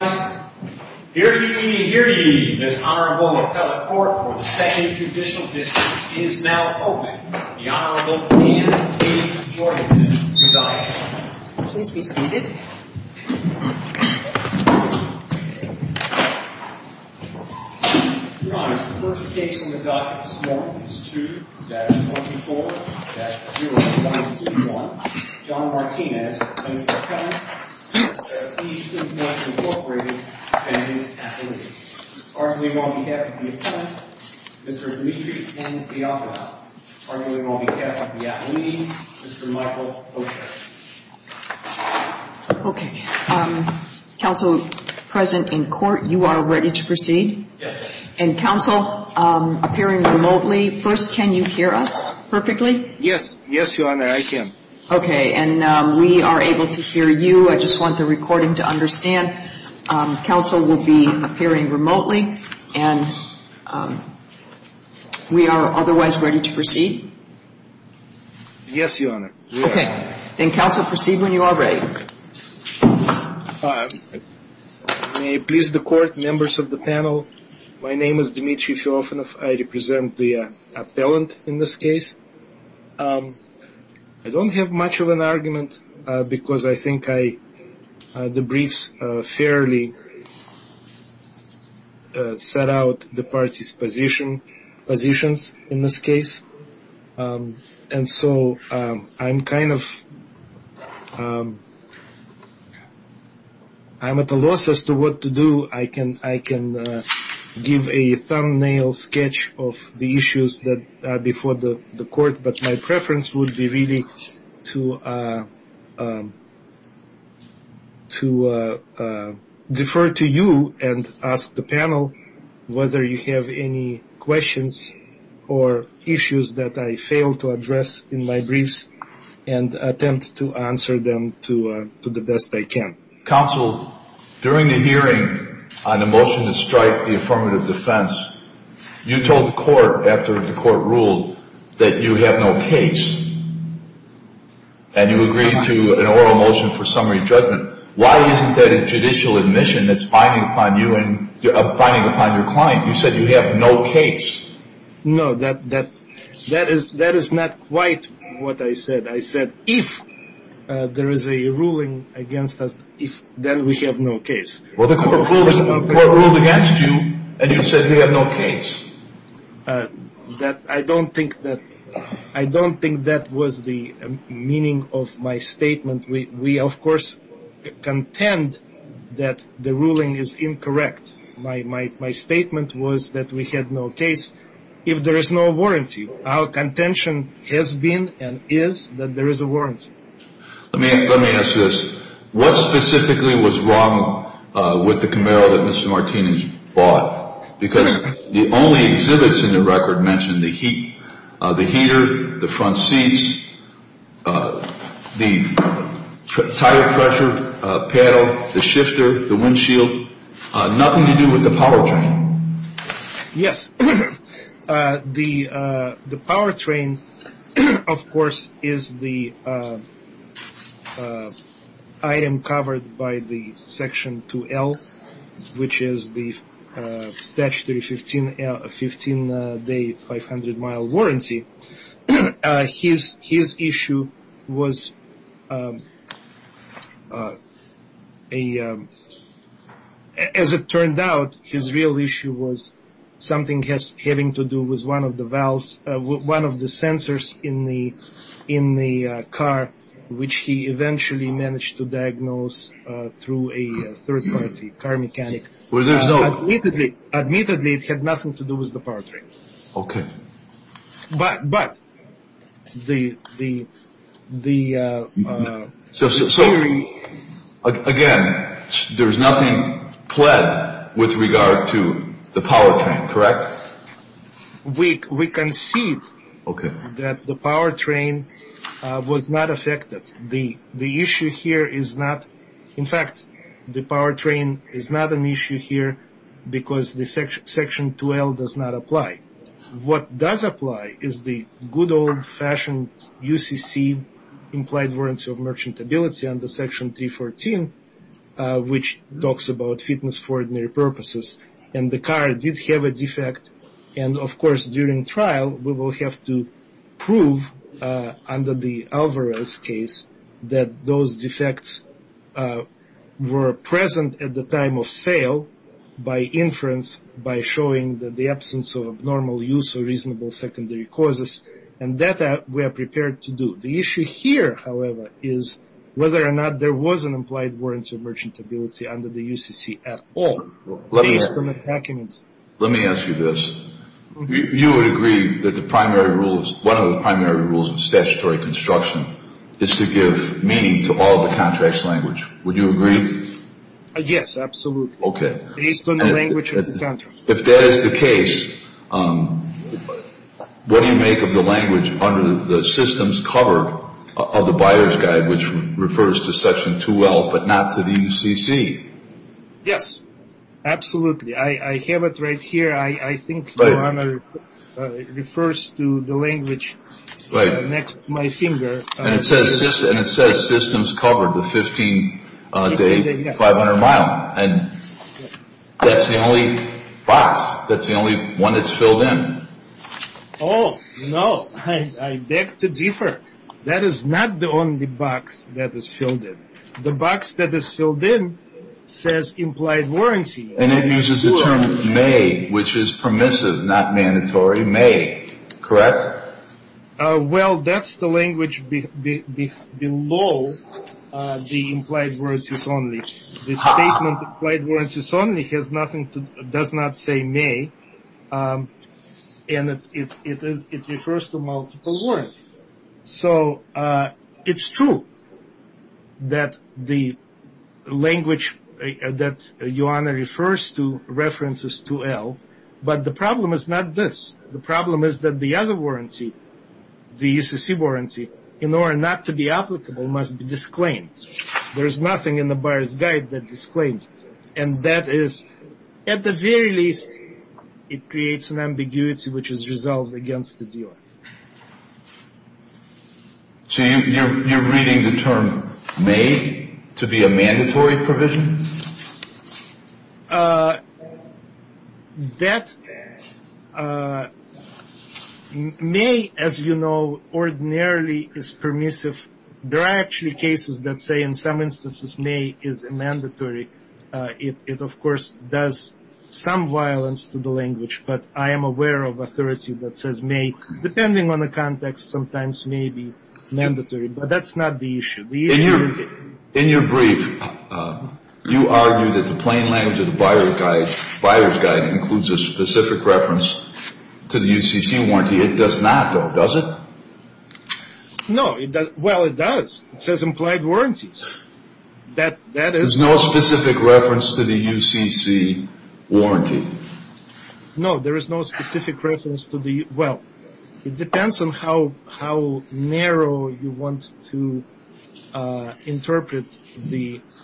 Hear ye, hear ye, this Honorable Appellate Court for the 2nd Judicial District is now open. The Honorable Anne H. Jorgensen, S.I. Please be seated. Your Honors, the first case on the docket this morning is 2-24-0121. John Martinez, S.I. Prestige Imports, Inc. Appellate. Arguably on behalf of the Appellant, Mr. Dimitri N. Bianco. Arguably on behalf of the Appellees, Mr. Michael O'Shea. Okay. Counsel, present in court, you are ready to proceed? Yes, Your Honor. And Counsel, appearing remotely, first can you hear us perfectly? Yes. Yes, Your Honor, I can. Okay, and we are able to hear you. I just want the recording to understand. Counsel will be appearing remotely, and we are otherwise ready to proceed? Yes, Your Honor. Okay. Then, Counsel, proceed when you are ready. May it please the Court, members of the panel, my name is Dimitri Filofanov. I represent the Appellant in this case. I don't have much of an argument because I think the briefs fairly set out the parties' positions in this case. And so I'm kind of at a loss as to what to do. I can give a thumbnail sketch of the issues before the Court, but my preference would be really to defer to you and ask the panel whether you have any questions or issues that I failed to address in my briefs and attempt to answer them to the best I can. Counsel, during the hearing on the motion to strike the affirmative defense, you told the Court after the Court ruled that you have no case, and you agreed to an oral motion for summary judgment. Why isn't that a judicial admission that's binding upon you and binding upon your client? You said you have no case. No, that is not quite what I said. I said if there is a ruling against us, then we have no case. Well, the Court ruled against you, and you said we have no case. I don't think that was the meaning of my statement. We, of course, contend that the ruling is incorrect. My statement was that we had no case. If there is no warranty, our contention has been and is that there is a warranty. Let me ask this. What specifically was wrong with the Camaro that Mr. Martinez bought? Because the only exhibits in the record mentioned the heater, the front seats, the tire pressure pedal, the shifter, the windshield, nothing to do with the powertrain. Yes. The powertrain, of course, is the item covered by the Section 2L, which is the statutory 15-day 500-mile warranty. His issue was, as it turned out, his real issue was something having to do with one of the valves, one of the sensors in the car, which he eventually managed to diagnose through a third-party car mechanic. Admittedly, it had nothing to do with the powertrain. Okay. But the theory... So, again, there is nothing pled with regard to the powertrain, correct? We concede that the powertrain was not affected. The issue here is not... In fact, the powertrain is not an issue here because the Section 2L does not apply. What does apply is the good old-fashioned UCC, Implied Warranty of Merchantability, under Section 314, which talks about fitness for ordinary purposes, and the car did have a defect. And, of course, during trial, we will have to prove, under the Alvarez case, that those defects were present at the time of sale by inference, by showing the absence of abnormal use or reasonable secondary causes. And that we are prepared to do. The issue here, however, is whether or not there was an Implied Warranty of Merchantability under the UCC at all. Let me ask you this. You would agree that one of the primary rules of statutory construction is to give meaning to all the contract's language. Would you agree? Yes, absolutely. Okay. Based on the language of the contract. If that is the case, what do you make of the language under the system's cover of the Buyer's Guide, which refers to Section 2L but not to the UCC? Yes. Absolutely. I have it right here. I think your Honor, it refers to the language next to my finger. And it says systems covered with 15 days, 500 miles. And that's the only box. That's the only one that's filled in. Oh, no. I beg to differ. That is not the only box that is filled in. The box that is filled in says Implied Warranty. And it uses the term may, which is permissive, not mandatory. May. Correct? Well, that's the language below the Implied Warranties Only. The statement Implied Warranties Only does not say may. And it refers to multiple warrants. So it's true that the language that your Honor refers to references 2L. But the problem is not this. The problem is that the other warranty, the UCC warranty, in order not to be applicable must be disclaimed. There is nothing in the Buyer's Guide that disclaims it. And that is, at the very least, it creates an ambiguity which is resolved against the dealer. So you're reading the term may to be a mandatory provision? That may, as you know, ordinarily is permissive. There are actually cases that say in some instances may is a mandatory. It, of course, does some violence to the language. But I am aware of authority that says may, depending on the context, sometimes may be mandatory. But that's not the issue. In your brief, you argue that the plain language of the Buyer's Guide includes a specific reference to the UCC warranty. It does not, though, does it? No. Well, it does. It says implied warranty. There's no specific reference to the UCC warranty. No, there is no specific reference to the, well, it depends on how narrow you want to interpret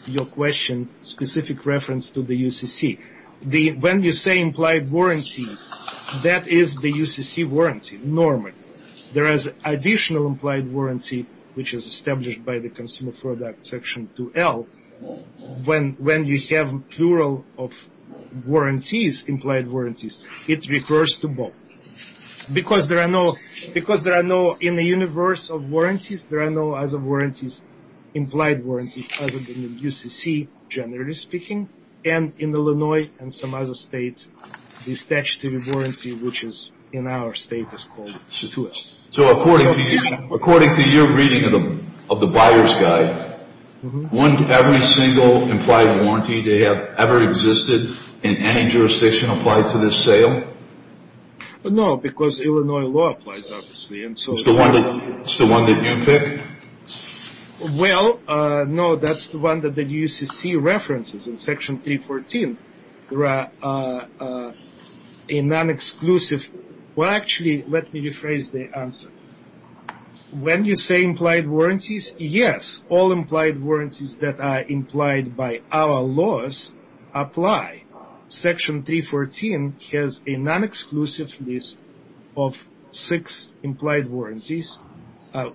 your question, specific reference to the UCC. When you say implied warranty, that is the UCC warranty normally. There is additional implied warranty, which is established by the Consumer Product Section 2L. When you have plural of warranties, implied warranties, it refers to both. Because there are no, in the universe of warranties, there are no other warranties, implied warranties other than the UCC, generally speaking. And in Illinois and some other states, the statutory warranty, which is in our state, is called statuette. So according to your reading of the Buyer's Guide, every single implied warranty to have ever existed in any jurisdiction applied to this sale? No, because Illinois law applies, obviously. It's the one that you pick? Well, no, that's the one that the UCC references in Section 314. There are a non-exclusive, well, actually, let me rephrase the answer. When you say implied warranties, yes, all implied warranties that are implied by our laws apply. Section 314 has a non-exclusive list of six implied warranties,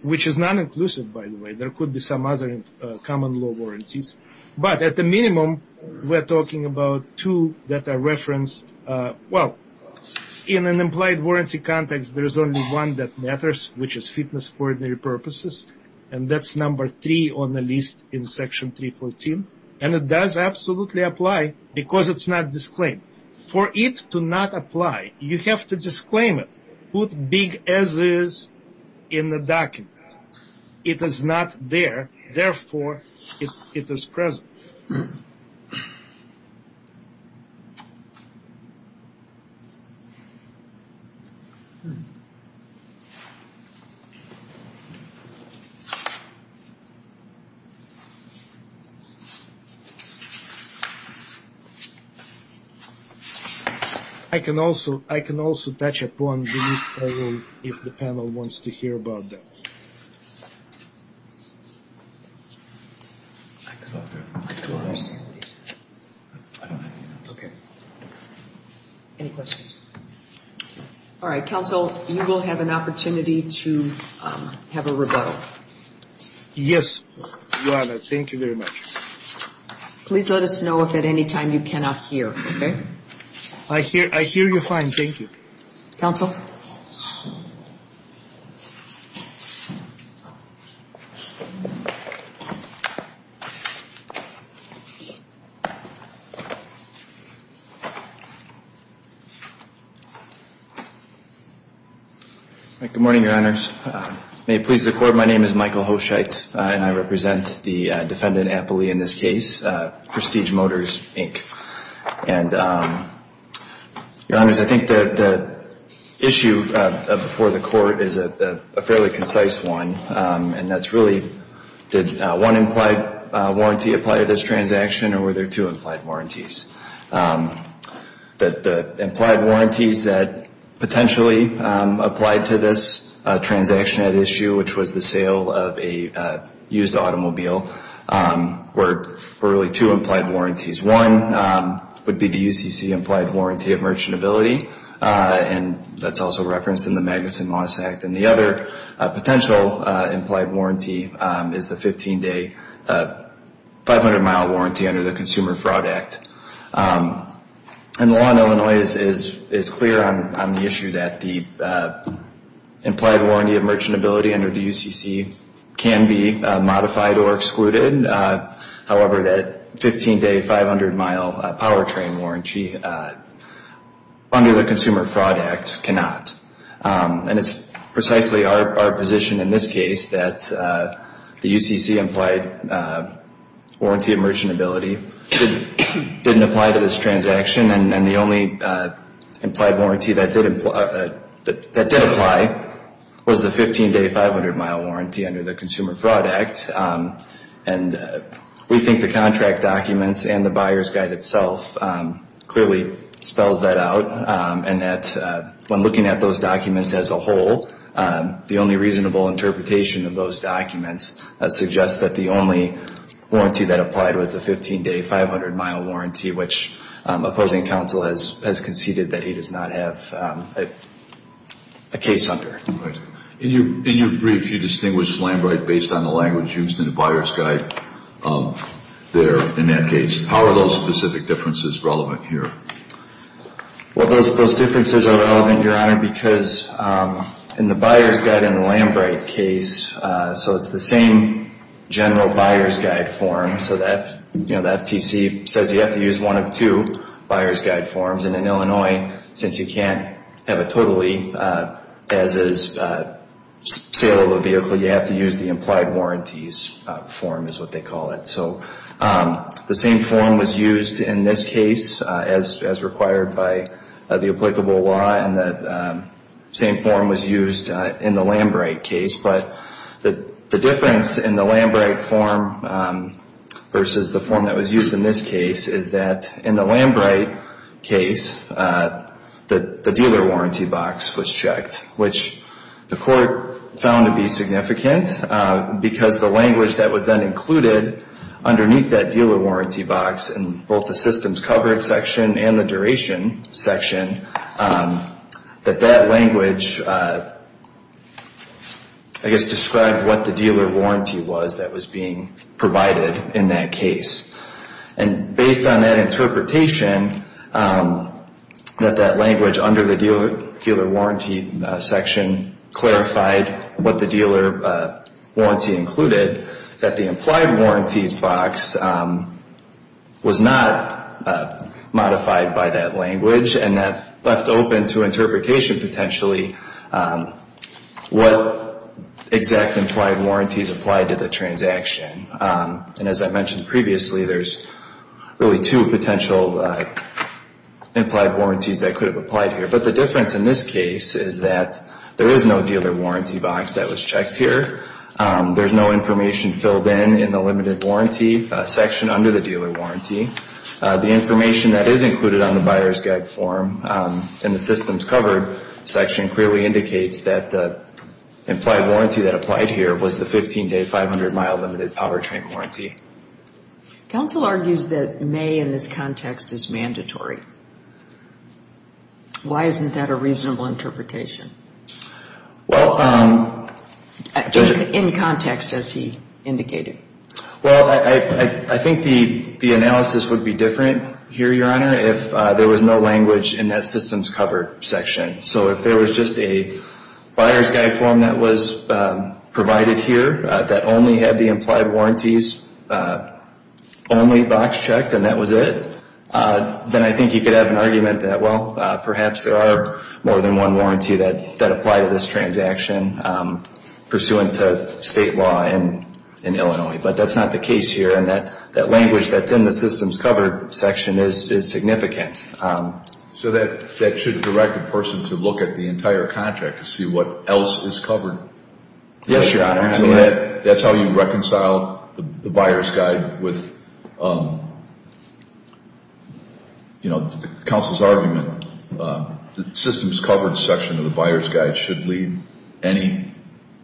which is non-inclusive, by the way. There could be some other common law warranties. But at the minimum, we're talking about two that are referenced. Well, in an implied warranty context, there's only one that matters, which is fitness for ordinary purposes. And that's number three on the list in Section 314. And it does absolutely apply, because it's not disclaimed. For it to not apply, you have to disclaim it. Put big as is in the document. It is not there, therefore, it is present. I can also touch upon the list, if the panel wants to hear about that. Any questions? All right, counsel, you will have an opportunity to have a rebuttal. Yes, Your Honor, thank you very much. Please let us know if at any time you cannot hear, okay? I hear you fine, thank you. Counsel? Good morning, Your Honors. May it please the Court, my name is Michael Hoshite, and I represent the defendant amply in this case, Prestige Motors, Inc. And, Your Honors, I think the issue before the Court is a fairly concise one, and that's really did one implied warranty apply to this transaction, or were there two implied warranties? The implied warranties that potentially applied to this transaction at issue, which was the sale of a used automobile, were really two implied warranties. One would be the UCC implied warranty of merchantability, and that's also referenced in the Magnuson-Moss Act. And the other potential implied warranty is the 15-day, 500-mile warranty under the Consumer Fraud Act. And the law in Illinois is clear on the issue that the implied warranty of merchantability under the UCC can be modified or excluded. However, that 15-day, 500-mile powertrain warranty under the Consumer Fraud Act cannot. And it's precisely our position in this case that the UCC implied warranty of merchantability didn't apply to this transaction, and the only implied warranty that did apply was the 15-day, 500-mile warranty under the Consumer Fraud Act. And we think the contract documents and the Buyer's Guide itself clearly spells that out, and that when looking at those documents as a whole, the only reasonable interpretation of those documents suggests that the only warranty that applied was the 15-day, 500-mile warranty, which opposing counsel has conceded that he does not have a case under. All right. In your brief, you distinguish Flambright based on the language used in the Buyer's Guide there in that case. How are those specific differences relevant here? Well, those differences are relevant, Your Honor, because in the Buyer's Guide and the Flambright case, so it's the same general Buyer's Guide form. So that, you know, the FTC says you have to use one of two Buyer's Guide forms. And in Illinois, since you can't have a totally as-is saleable vehicle, you have to use the implied warranties form is what they call it. So the same form was used in this case as required by the applicable law, and the same form was used in the Flambright case. But the difference in the Flambright form versus the form that was used in this case is that in the Flambright case, the dealer warranty box was checked, which the court found to be significant because the language that was then included underneath that dealer warranty box in both the systems coverage section and the duration section, that that language, I guess, described what the dealer warranty was that was being provided in that case. And based on that interpretation, that that language under the dealer warranty section clarified what the dealer warranty included, that the implied warranties box was not modified by that language, and that left open to interpretation potentially what exact implied warranties applied to the transaction. And as I mentioned previously, there's really two potential implied warranties that could have applied here. But the difference in this case is that there is no dealer warranty box that was checked here. There's no information filled in in the limited warranty section under the dealer warranty. The information that is included on the buyer's guide form in the systems covered section clearly indicates that the implied warranty that applied here was the 15-day, 500-mile limited powertrain warranty. Counsel argues that may in this context is mandatory. Why isn't that a reasonable interpretation in context, as he indicated? Well, I think the analysis would be different here, Your Honor, if there was no language in that systems covered section. So if there was just a buyer's guide form that was provided here that only had the implied warranties only box checked and that was it, then I think you could have an argument that, well, perhaps there are more than one warranty that applied to this transaction pursuant to state law in Illinois. But that's not the case here, and that language that's in the systems covered section is significant. So that should direct a person to look at the entire contract to see what else is covered? Yes, Your Honor. So that's how you reconcile the buyer's guide with, you know, the counsel's argument. The systems covered section of the buyer's guide should lead any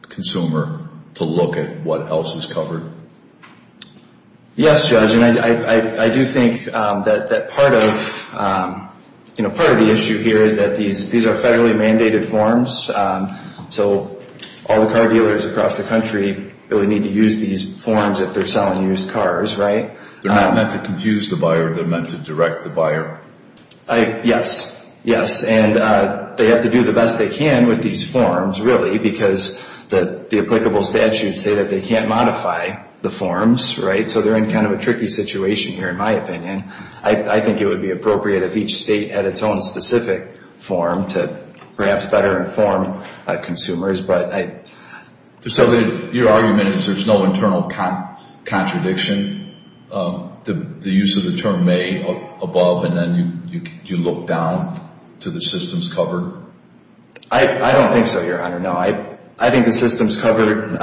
consumer to look at what else is covered? Yes, Judge, and I do think that part of the issue here is that these are federally mandated forms. So all the car dealers across the country really need to use these forms if they're selling used cars, right? They're not meant to confuse the buyer. They're meant to direct the buyer. Yes, yes. And they have to do the best they can with these forms, really, because the applicable statutes say that they can't modify the forms, right? So they're in kind of a tricky situation here, in my opinion. I think it would be appropriate if each state had its own specific form to perhaps better inform consumers. So your argument is there's no internal contradiction? The use of the term may above, and then you look down to the systems covered? I don't think so, Your Honor. No, I think the systems covered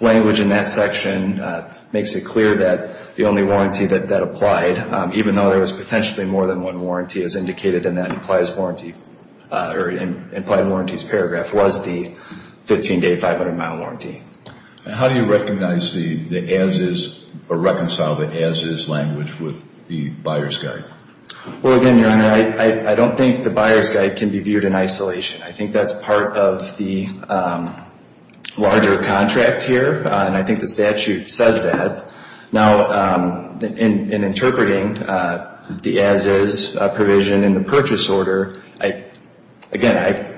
language in that section makes it clear that the only warranty that applied, even though there was potentially more than one warranty, as indicated in that implied warranty's paragraph, was the 15-day, 500-mile warranty. How do you recognize the as-is or reconcile the as-is language with the Buyer's Guide? Well, again, Your Honor, I don't think the Buyer's Guide can be viewed in isolation. I think that's part of the larger contract here, and I think the statute says that. Now, in interpreting the as-is provision in the purchase order, again,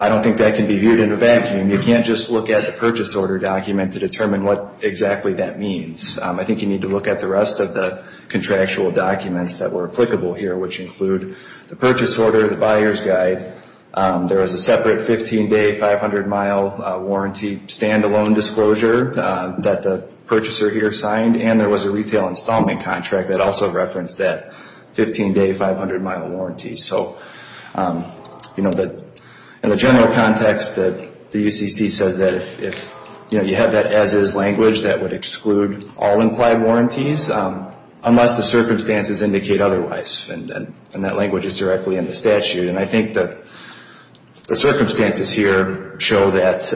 I don't think that can be viewed in a vacuum. You can't just look at a purchase order document to determine what exactly that means. I think you need to look at the rest of the contractual documents that were applicable here, which include the purchase order, the Buyer's Guide. There is a separate 15-day, 500-mile warranty stand-alone disclosure that the purchaser here signed, and there was a retail installment contract that also referenced that 15-day, 500-mile warranty. So in the general context, the UCC says that if you have that as-is language, that would exclude all implied warranties unless the circumstances indicate otherwise, and that language is directly in the statute. And I think the circumstances here show that,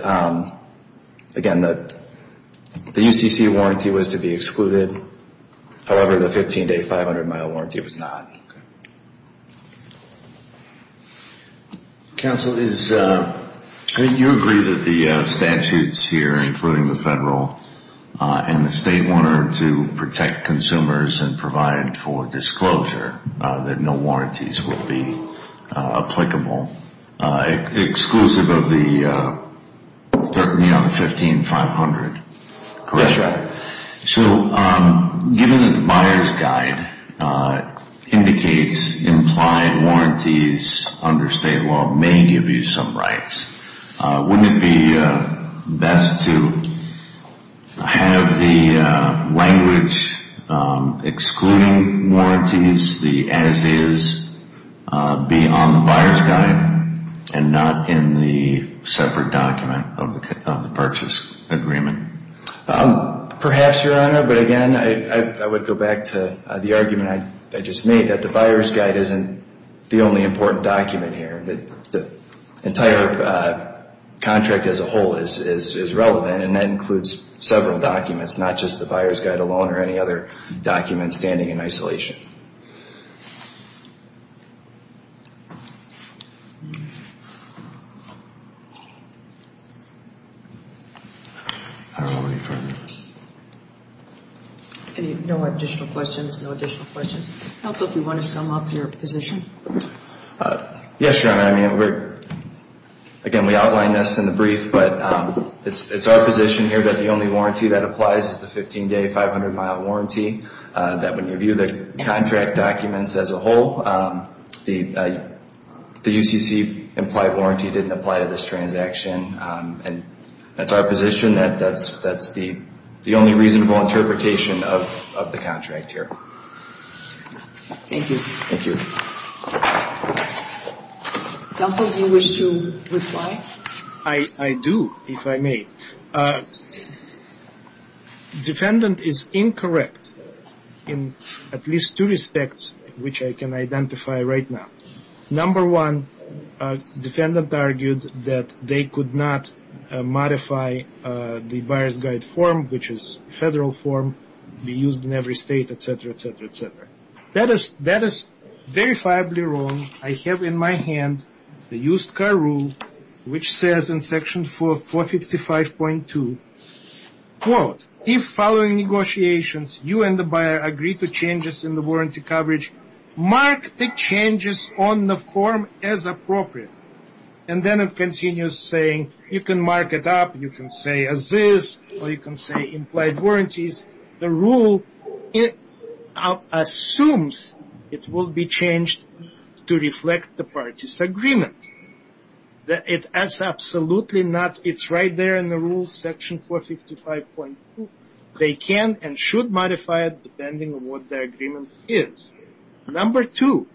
again, the UCC warranty was to be excluded. However, the 15-day, 500-mile warranty was not. Counsel, I think you agree that the statutes here, including the federal and the state, wanted to protect consumers and provide for disclosure that no warranties would be applicable, exclusive of the 15, 500, correct? That's right. So given that the Buyer's Guide indicates implied warranties under state law may give you some rights, wouldn't it be best to have the language excluding warranties, the as-is, be on the Buyer's Guide and not in the separate document of the purchase agreement? Perhaps, Your Honor, but again, I would go back to the argument I just made, that the Buyer's Guide isn't the only important document here. The entire contract as a whole is relevant, and that includes several documents, not just the Buyer's Guide alone or any other document standing in isolation. No additional questions, no additional questions. Counsel, if you want to sum up your position. Yes, Your Honor, again, we outlined this in the brief, but it's our position here that the only warranty that applies is the 15-day, 500-mile warranty, that when you view the contract documents as a whole, the UCC implied warranty didn't apply to this transaction. And that's our position, that that's the only reasonable interpretation of the contract here. Thank you. Thank you. Counsel, do you wish to reply? I do, if I may. Defendant is incorrect in at least two respects, which I can identify right now. Number one, defendant argued that they could not modify the Buyer's Guide form, which is a federal form, be used in every state, et cetera, et cetera, et cetera. That is verifiably wrong. I have in my hand the used car rule, which says in section 455.2, quote, if following negotiations you and the buyer agree to changes in the warranty coverage, mark the changes on the form as appropriate. And then it continues saying you can mark it up, you can say as is, or you can say implied warranties. The rule assumes it will be changed to reflect the parties' agreement. It's absolutely not. It's right there in the rules, section 455.2. They can and should modify it depending on what their agreement is. Number two,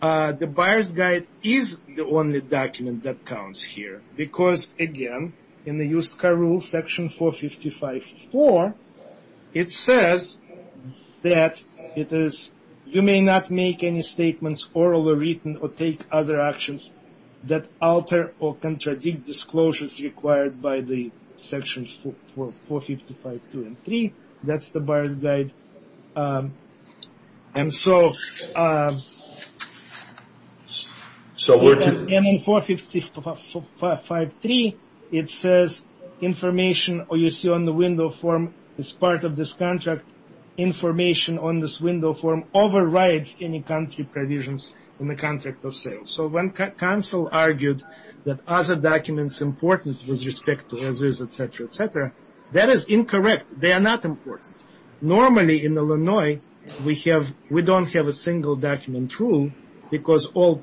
the Buyer's Guide is the only document that counts here because, again, in the used car rule, section 455.4, it says that it is you may not make any statements, oral or written, or take other actions that alter or contradict disclosures required by the sections for 455.2 and 3. That's the Buyer's Guide. And so in 455.3, it says information you see on the window form is part of this contract. Information on this window form overrides any country provisions in the contract of sales. So when counsel argued that other documents important with respect to others, et cetera, et cetera, that is incorrect. They are not important. Normally in Illinois, we don't have a single document rule because all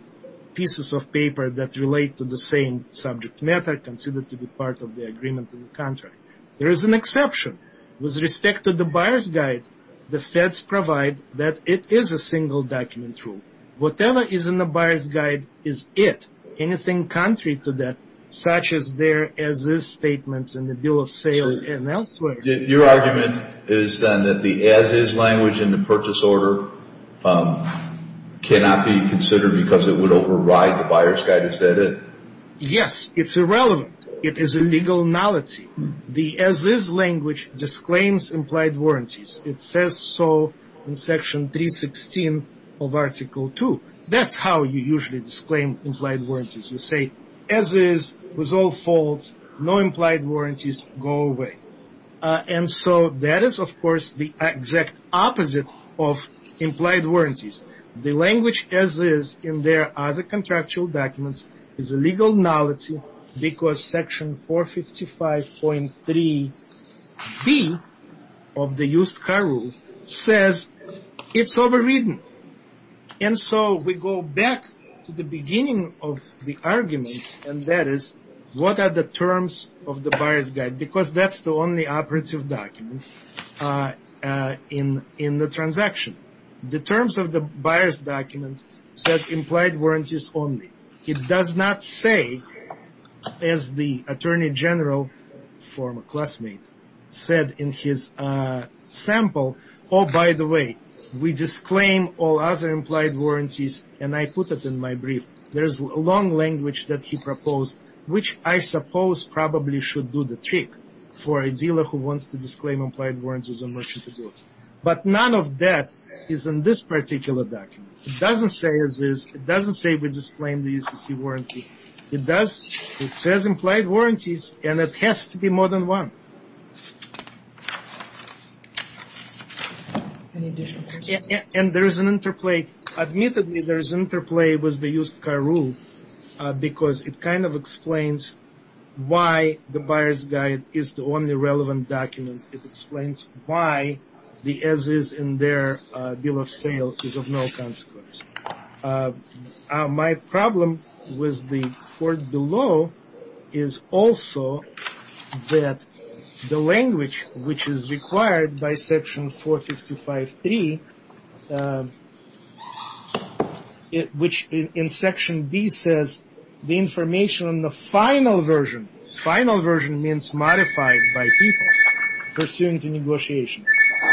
pieces of paper that relate to the same subject matter considered to be part of the agreement of the contract. There is an exception. With respect to the Buyer's Guide, the feds provide that it is a single document rule. Whatever is in the Buyer's Guide is it. Anything contrary to that, such as their as-is statements and the bill of sale and elsewhere. Your argument is then that the as-is language in the purchase order cannot be considered because it would override the Buyer's Guide. Is that it? Yes. It's irrelevant. It is a legal knowledge. The as-is language disclaims implied warranties. It says so in Section 316 of Article 2. That's how you usually disclaim implied warranties. You say as-is was all false. No implied warranties. Go away. And so that is, of course, the exact opposite of implied warranties. The language as-is in their other contractual documents is a legal knowledge because Section 455.3b of the Used Car Rule says it's overridden. And so we go back to the beginning of the argument, and that is, what are the terms of the Buyer's Guide? Because that's the only operative document in the transaction. The terms of the Buyer's Document says implied warranties only. It does not say, as the Attorney General, former classmate, said in his sample, oh, by the way, we disclaim all other implied warranties, and I put it in my brief. There's a long language that he proposed, which I suppose probably should do the trick for a dealer who wants to disclaim implied warranties on merchant goods. But none of that is in this particular document. It doesn't say as-is. It doesn't say we disclaim the UCC warranty. It does. It says implied warranties, and it has to be more than one. And there is an interplay. Admittedly, there is interplay with the Used Car Rule because it kind of explains why the Buyer's Guide is the only relevant document. It explains why the as-is in their bill of sale is of no consequence. My problem with the court below is also that the language which is required by Section 455.3, which in Section B says the information on the final version, final version means modified by people pursuant to negotiations,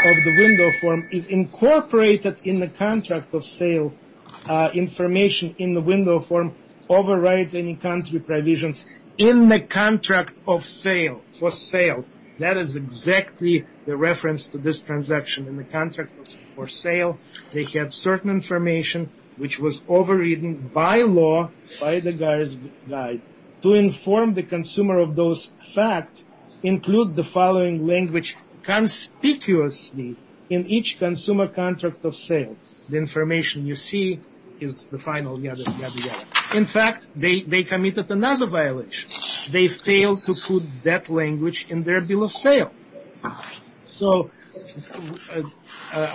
of the window form is incorporated in the contract of sale. Information in the window form overrides any country provisions in the contract of sale, for sale. That is exactly the reference to this transaction. for sale. They had certain information which was overridden by law by the Buyer's Guide. To inform the consumer of those facts, include the following language conspicuously in each consumer contract of sale. The information you see is the final. In fact, they committed another violation. They failed to put that language in their bill of sale. So,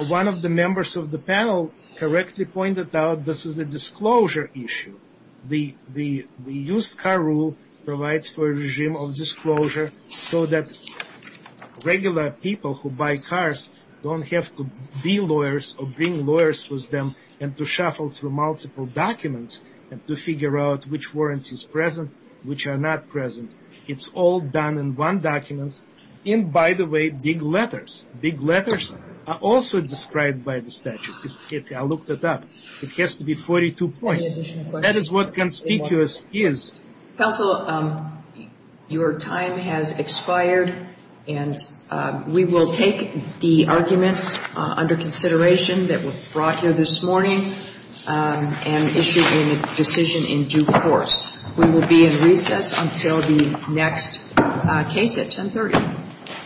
one of the members of the panel correctly pointed out this is a disclosure issue. The Used Car Rule provides for a regime of disclosure so that regular people who buy cars don't have to be lawyers or bring lawyers with them and to shuffle through multiple documents and to figure out which warrants are present and which are not present. It's all done in one document in, by the way, big letters. Big letters are also described by the statute. I looked it up. It has to be 42 points. That is what conspicuous is. Counsel, your time has expired, and we will take the arguments under consideration that were brought here this morning and issue a decision in due course. We will be in recess until the next case at 1030.